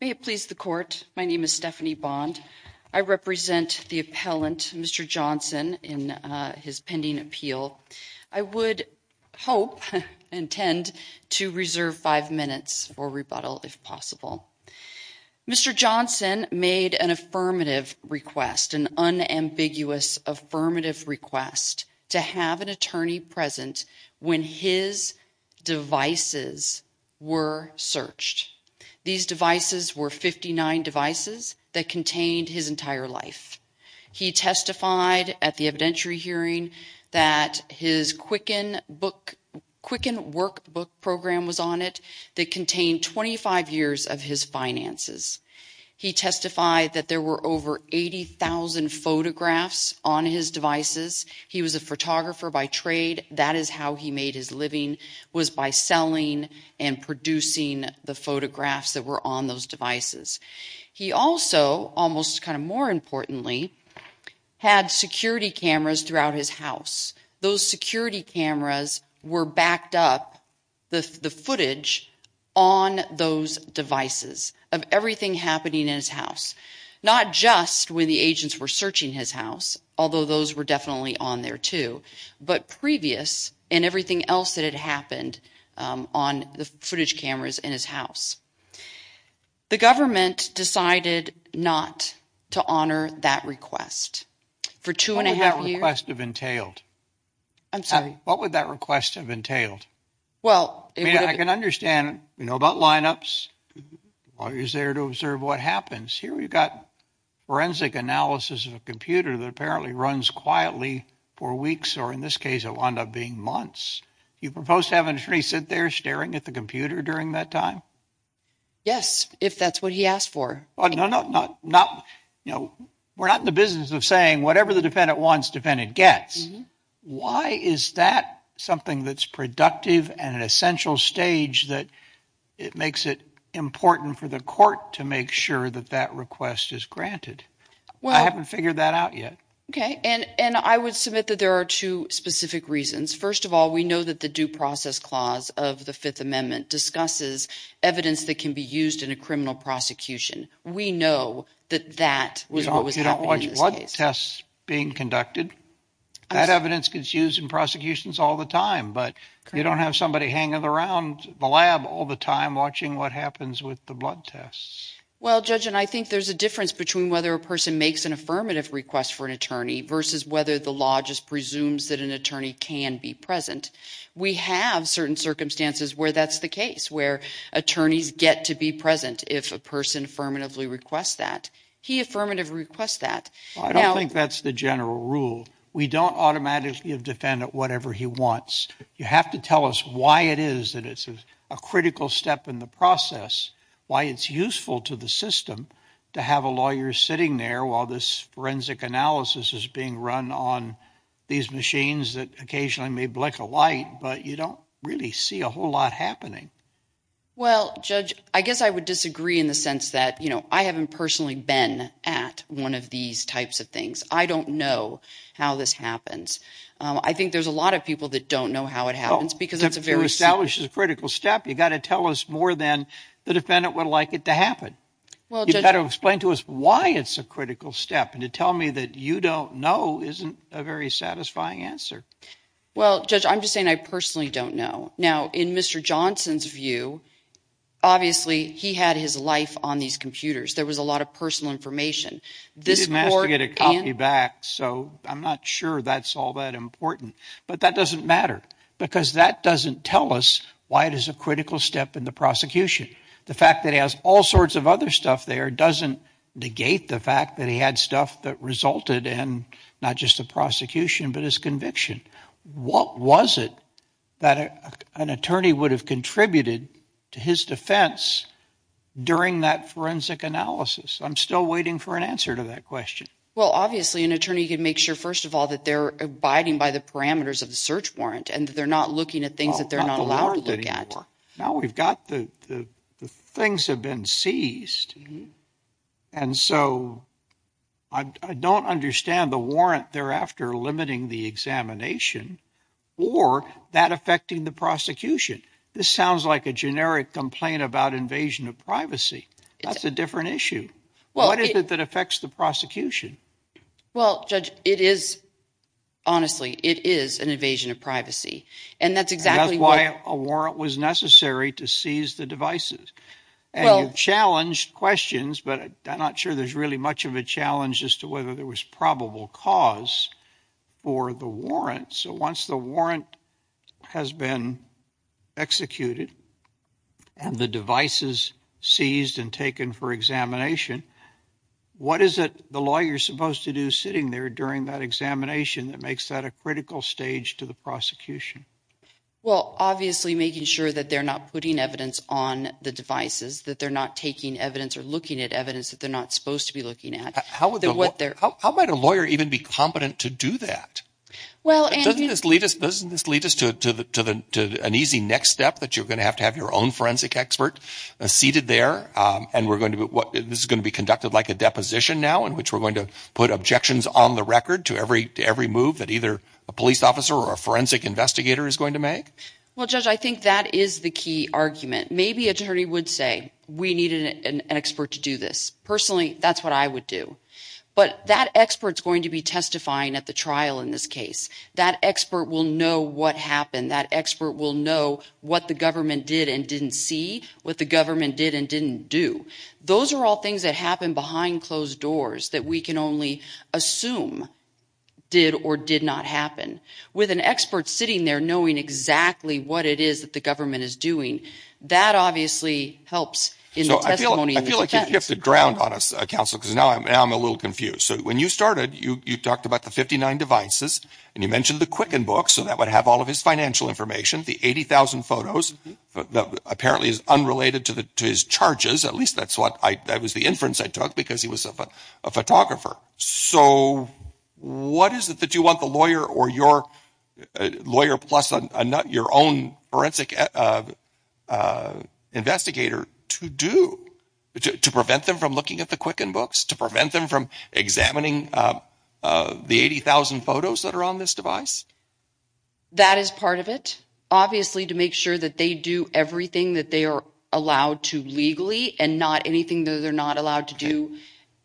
May it please the court, my name is Stephanie Bond. I represent the appellant, Mr. Johnson, in his pending appeal. I would hope, intend, to reserve five minutes for rebuttal if possible. Mr. Johnson made an affirmative request, an unambiguous affirmative request, to have an attorney present when his devices were searched. These devices were 59 devices that contained his entire life. He testified at the evidentiary hearing that his Quicken workbook program was on it that contained 25 years of his finances. He testified that there were over 80,000 photographs on his devices. He was a photographer by trade. That is how he made his living, was by selling and producing the photographs that were on those devices. He also, almost kind of more importantly, had security cameras throughout his house. Those security cameras were backed up, the footage, on those devices of everything happening in his house. Not just when the agents were searching his house, although those were definitely on there too, but previous and everything else that had happened on the footage cameras in his house. The government decided not to honor that request. What would that request have entailed? I can understand, we know about lineups, lawyers there to observe what happens. Here we've got forensic analysis of a computer that apparently runs quietly for weeks, or in this case it will end up being months. Do you propose to have an attorney sit there staring at the computer during that time? Yes, if that's what he asked for. We're not in the business of saying whatever the defendant wants, defendant gets. Why is that something that's productive and an essential stage that it makes it important for the court to make sure that that request is granted? I haven't figured that out yet. I would submit that there are two specific reasons. First of all, we know that the Due Process Clause of the Fifth Amendment discusses evidence that can be used in a criminal prosecution. We know that that was what was happening in this case. You don't watch blood tests being conducted. That evidence gets used in prosecutions all the time, but you don't have somebody hanging around the lab all the time watching what happens with the blood tests. Well, Judge, and I think there's a difference between whether a person makes an affirmative request for an attorney versus whether the law just presumes that an attorney can be present. We have certain circumstances where that's the case, where attorneys get to be present if a person affirmatively requests that. He affirmatively requests that. I don't think that's the general rule. We don't automatically give defendant whatever he wants. You have to tell us why it is that it's a critical step in the process, why it's useful to the system to have a lawyer sitting there while this forensic analysis is being run on these machines that occasionally may blink a light, but you don't really see a whole lot happening. Well, Judge, I guess I would disagree in the sense that, you know, I haven't personally been at one of these types of things. I don't know how this happens. I think there's a lot of people that don't know how it happens because it's a very critical step. You've got to tell us more than the defendant would like it to happen. Well, you've got to explain to us why it's a critical step. And to tell me that you don't know isn't a very satisfying answer. Well, Judge, I'm just saying I personally don't know. Now, in Mr. Johnson's view, obviously, he had his life on these computers. There was a lot of personal information. He didn't ask to get a copy back, so I'm not sure that's all that important. But that doesn't matter because that doesn't tell us why it is a critical step in the prosecution. The fact that he has all sorts of other stuff there doesn't negate the fact that he had stuff that resulted in not just a prosecution but his conviction. What was it that an attorney would have contributed to his defense during that forensic analysis? I'm still waiting for an answer to that question. Well, obviously, an attorney can make sure, first of all, that they're abiding by the parameters of the search warrant and that they're not looking at things that they're not allowed to look at. Now we've got the things have been seized. And so I don't understand the warrant thereafter limiting the examination or that affecting the prosecution. This sounds like a generic complaint about invasion of privacy. That's a different issue. What is it that affects the prosecution? Well, Judge, it is, honestly, it is an invasion of privacy. And that's exactly why a warrant was necessary to seize the devices. And you've challenged questions, but I'm not sure there's really much of a challenge as to whether there was probable cause for the warrant. So once the warrant has been executed and the devices seized and taken for examination, what is it the lawyer is supposed to do sitting there during that examination that makes that a critical stage to the prosecution? Well, obviously, making sure that they're not putting evidence on the devices, that they're not taking evidence or looking at evidence that they're not supposed to be looking at. How might a lawyer even be competent to do that? Doesn't this lead us to an easy next step that you're going to have to have your own forensic expert seated there? And this is going to be conducted like a deposition now, in which we're going to put objections on the record to every move that either a police officer or a forensic investigator is going to make? Well, Judge, I think that is the key argument. Maybe an attorney would say, we need an expert to do this. Personally, that's what I would do. But that expert is going to be testifying at the trial in this case. That expert will know what happened. That expert will know what the government did and didn't see, what the government did and didn't do. Those are all things that happen behind closed doors that we can only assume did or did not happen. With an expert sitting there knowing exactly what it is that the government is doing, that obviously helps in the testimony. I feel like you've gifted ground on us, Counsel, because now I'm a little confused. When you started, you talked about the 59 devices, and you mentioned the Quicken book, so that would have all of his financial information, the 80,000 photos, that apparently is unrelated to his charges. At least that was the inference I took, because he was a photographer. What is it that you want the lawyer or your lawyer plus your own forensic investigator to do to prevent them from looking at the Quicken books, to prevent them from examining the 80,000 photos that are on this device? That is part of it. Obviously, to make sure that they do everything that they are allowed to legally and not anything that they are not allowed to do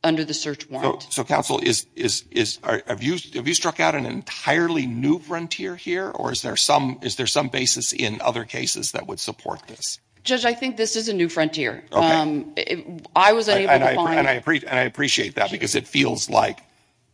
under the search warrant. Counsel, have you struck out an entirely new frontier here, or is there some basis in other cases that would support this? Judge, I think this is a new frontier. I was unable to find... I appreciate that, because it feels like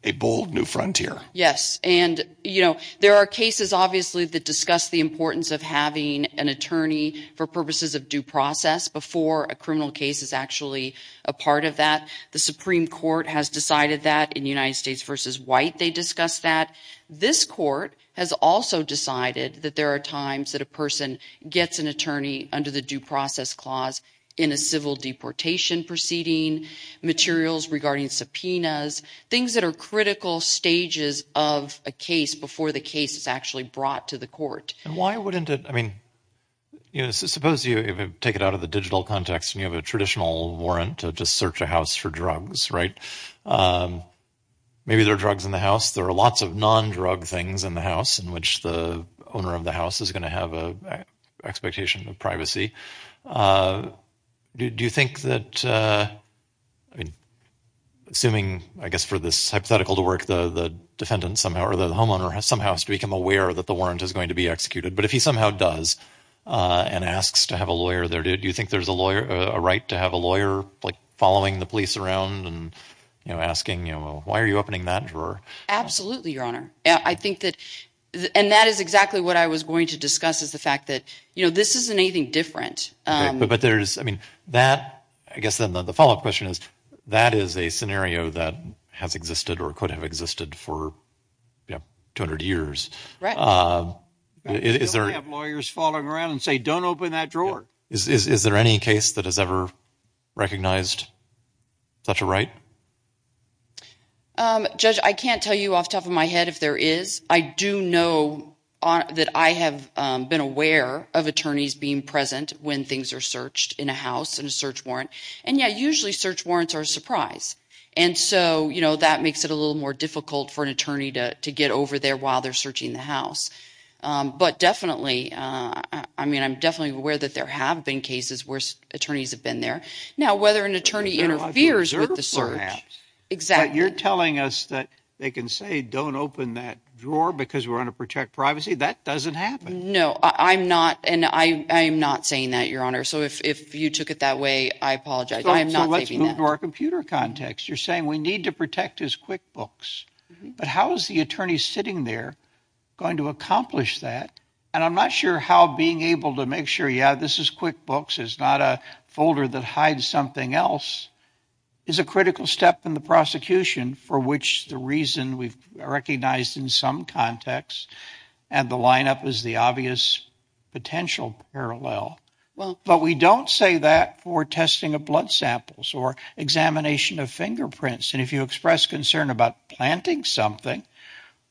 a bold new frontier. Yes. There are cases, obviously, that discuss the importance of having an attorney for purposes of due process before a criminal case is actually a part of that. The Supreme Court has decided that. In United States v. White, they discussed that. This court has also decided that there are times that a person gets an attorney under the due process clause in a civil deportation proceeding, materials regarding subpoenas, things that are critical stages of a case before the case is actually brought to the court. Why wouldn't it... Suppose you take it out of the digital context and you have a traditional warrant to search a house for drugs, right? Maybe there are drugs in the house. There are lots of non-drug things in the house in which the owner of the house is going to have an expectation of privacy. Do you think that... Assuming, I guess, for this hypothetical to work, the defendant somehow or the homeowner somehow has to become aware that the warrant is going to be executed, but if he somehow does and asks to have a lawyer there, do you think there's a right to have a lawyer following the police around and asking, you know, why are you opening that drawer? Absolutely, Your Honor. I think that... And that is exactly what I was going to discuss, is the fact that, you know, this isn't anything different. But there's... I mean, that... I guess then the follow-up question is, that is a scenario that has existed or could have existed for, you know, 200 years. Right. Is there... You don't have lawyers following around and say, don't open that drawer. Is there any case that has ever recognized such a right? Judge, I can't tell you off the top of my head if there is. I do know that I have been aware of attorneys being present when things are searched in a house in a search warrant. And, yeah, usually search warrants are a surprise. And so, you know, that makes it a little more difficult for an attorney to get over there while they're searching the house. But definitely, I mean, I'm definitely aware that there have been cases where attorneys have been there. Now, whether an attorney interferes with the search... But you're telling us that they can say, don't open that drawer because we're going to protect privacy? That doesn't happen. No, I'm not. And I am not saying that, Your Honor. So if you took it that way, I apologize. I am not saying that. So let's move to our computer context. You're saying we need to protect his QuickBooks. But how is the attorney sitting there going to accomplish that? And I'm not sure how being able to make sure, yeah, this is QuickBooks, it's not a folder that hides something else, is a critical step in the prosecution for which the reason we've recognized in some contexts and the lineup is the obvious potential parallel. But we don't say that for testing of blood samples or examination of fingerprints. And if you express concern about planting something,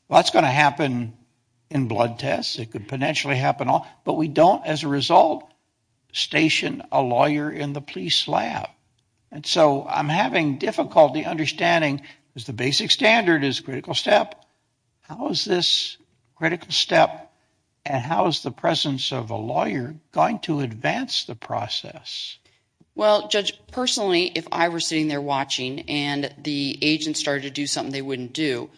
that's going to happen in blood tests. It could potentially happen. But we don't, as a result, station a lawyer in the police lab. And so I'm having difficulty understanding because the basic standard is critical step. How is this critical step and how is the presence of a lawyer going to advance the process? Well, Judge, personally, if I were sitting there watching and the agent started to do something they wouldn't do,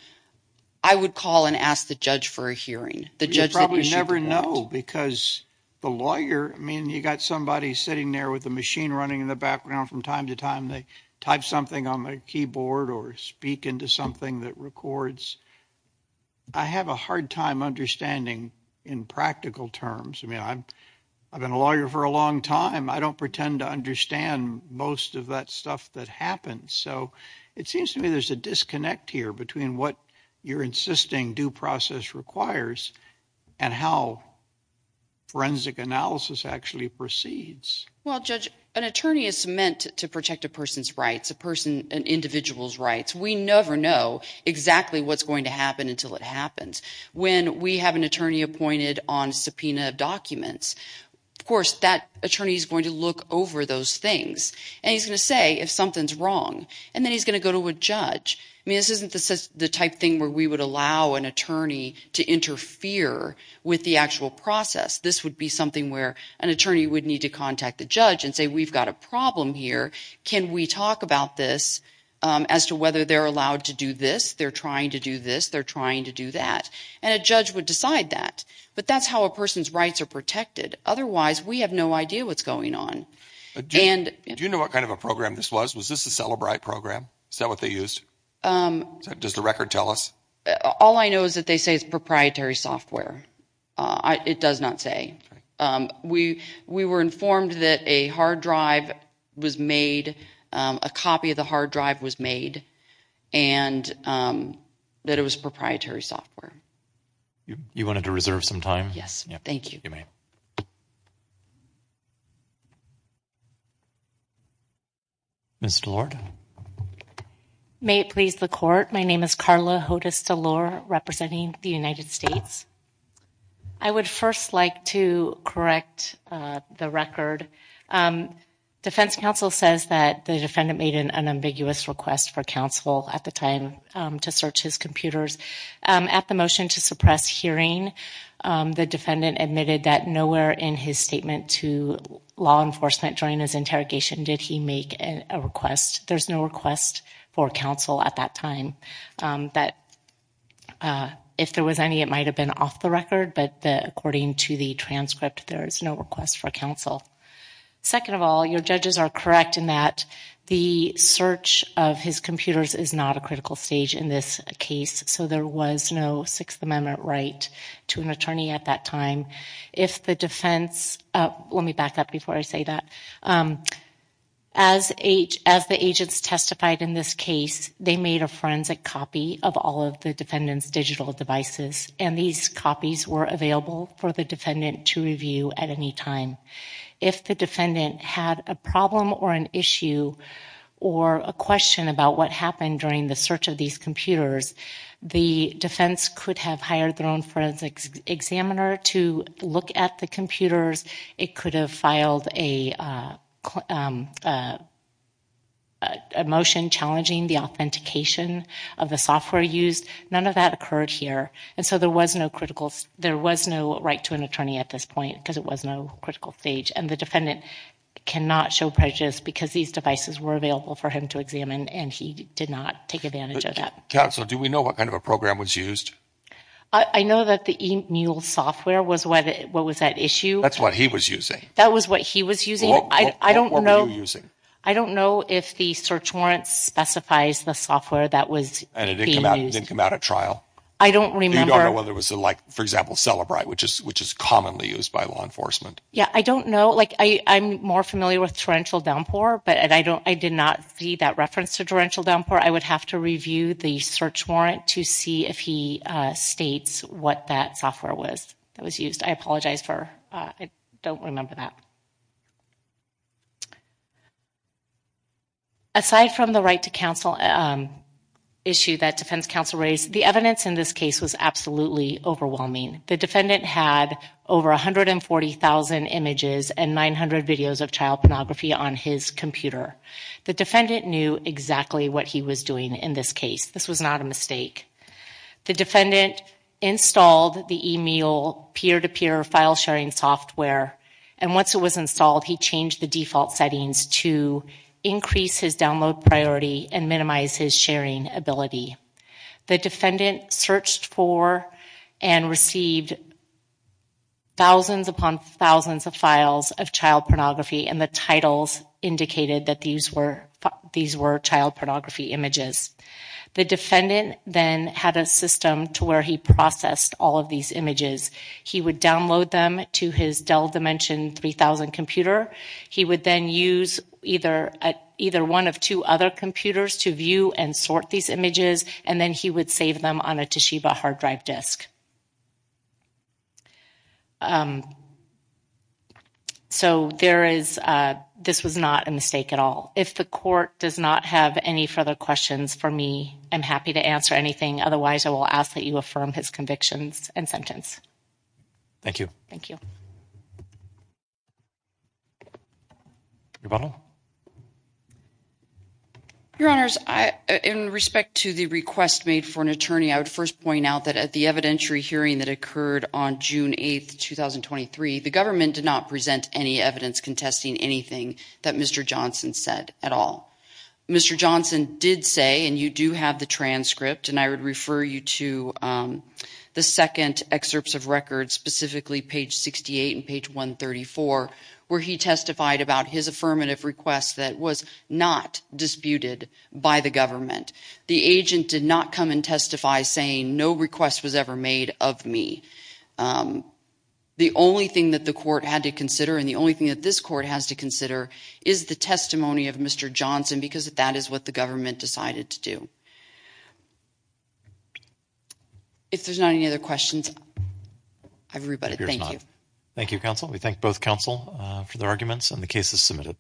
I would call and ask the judge for a hearing, the judge that issued that. You probably never know because the lawyer, I mean, you got somebody sitting there with a machine running in the background from time to time, they type something on their keyboard or speak into something that records. I have a hard time understanding in practical terms. I mean, I've been a lawyer for a long time. I don't pretend to understand most of that stuff that happens. So it seems to me there's a disconnect here between what you're insisting due process requires and how forensic analysis actually proceeds. Well, Judge, an attorney is meant to protect a person's rights, a person, an individual's rights. We never know exactly what's going to happen until it happens. When we have an attorney appointed on subpoena documents, of course that attorney is going to look over those things and he's going to say if something's wrong and then he's going to go to a judge. I mean, this isn't the type of thing where we would allow an attorney to interfere with the actual process. This would be something where an attorney would need to contact the judge and say we've got a problem here. Can we talk about this as to whether they're allowed to do this? They're trying to do this. They're trying to do that. And a judge would decide that. But that's how a person's rights are protected. Otherwise, we have no idea what's going on. Do you know what kind of a program this was? Was this a Cellebrite program? Is that what they used? Does the record tell us? All I know is that they say it's proprietary software. It does not say. We were informed that a hard drive was made, a copy of the hard drive was made, and that it was proprietary software. You wanted to reserve some time? Yes, thank you. You may. Ms. DeLorde? May it please the Court, my name is Carla Hodes DeLorde, representing the United States. I would first like to correct the record. Defense counsel says that the defendant made an unambiguous request for counsel at the time to search his computers. At the motion to suppress hearing, the defendant admitted that nowhere in his statement to law enforcement during his interrogation did he make a request. There's no request for counsel at that time. If there was any, it might have been off the record, but according to the transcript, there is no request for counsel. Second of all, your judges are correct in that the search of his computers is not a critical stage in this case, so there was no Sixth Amendment right to an attorney at that time. If the defense, let me back up before I say that. As the agents testified in this case, they made a forensic copy of all of the defendant's digital devices, and these copies were available for the defendant to review at any time. If the defendant had a problem or an issue or a question about what happened during the search of these computers, the defense could have hired their own forensic examiner to look at the computers. It could have filed a motion challenging the authentication of the software used. None of that occurred here, and so there was no right to an attorney at this point because it was no critical stage, and the defendant cannot show prejudice because these devices were available for him to examine, and he did not take advantage of that. Counsel, do we know what kind of a program was used? I know that the eMule software was what was at issue. That's what he was using. That was what he was using. What were you using? I don't know if the search warrant specifies the software that was being used. And it didn't come out at trial? I don't remember. You don't know whether it was, for example, Celebrite, which is commonly used by law enforcement? Yeah, I don't know. I'm more familiar with Torrential Downpour, but I did not see that reference to Torrential Downpour. I would have to review the search warrant to see if he states what that software was that was used. I apologize for I don't remember that. Aside from the right to counsel issue that defense counsel raised, the evidence in this case was absolutely overwhelming. The defendant had over 140,000 images and 900 videos of child pornography on his computer. The defendant knew exactly what he was doing in this case. This was not a mistake. The defendant installed the e-mail peer-to-peer file sharing software, and once it was installed, he changed the default settings to increase his download priority and minimize his sharing ability. The defendant searched for and received thousands upon thousands of files of child pornography, and the titles indicated that these were child pornography images. The defendant then had a system to where he processed all of these images. He would download them to his Dell Dimension 3000 computer. He would then use either one of two other computers to view and sort these images, and then he would save them on a Toshiba hard drive disk. So this was not a mistake at all. If the court does not have any further questions for me, I'm happy to answer anything. Otherwise, I will ask that you affirm his convictions and sentence. Thank you. Thank you. Your Honors, in respect to the request made for an attorney, I would first point out that at the evidentiary hearing that occurred on June 8, 2023, the government did not present any evidence contesting anything that Mr. Johnson said at all. Mr. Johnson did say, and you do have the transcript, and I would refer you to the second excerpts of records, specifically page 68 and page 134, where he testified about his affirmative request that was not disputed by the government. The agent did not come and testify saying no request was ever made of me. The only thing that the court had to consider and the only thing that this court has to consider is the testimony of Mr. Johnson because that is what the government decided to do. If there's not any other questions, everybody, thank you. Thank you, counsel. We thank both counsel for their arguments and the cases submitted.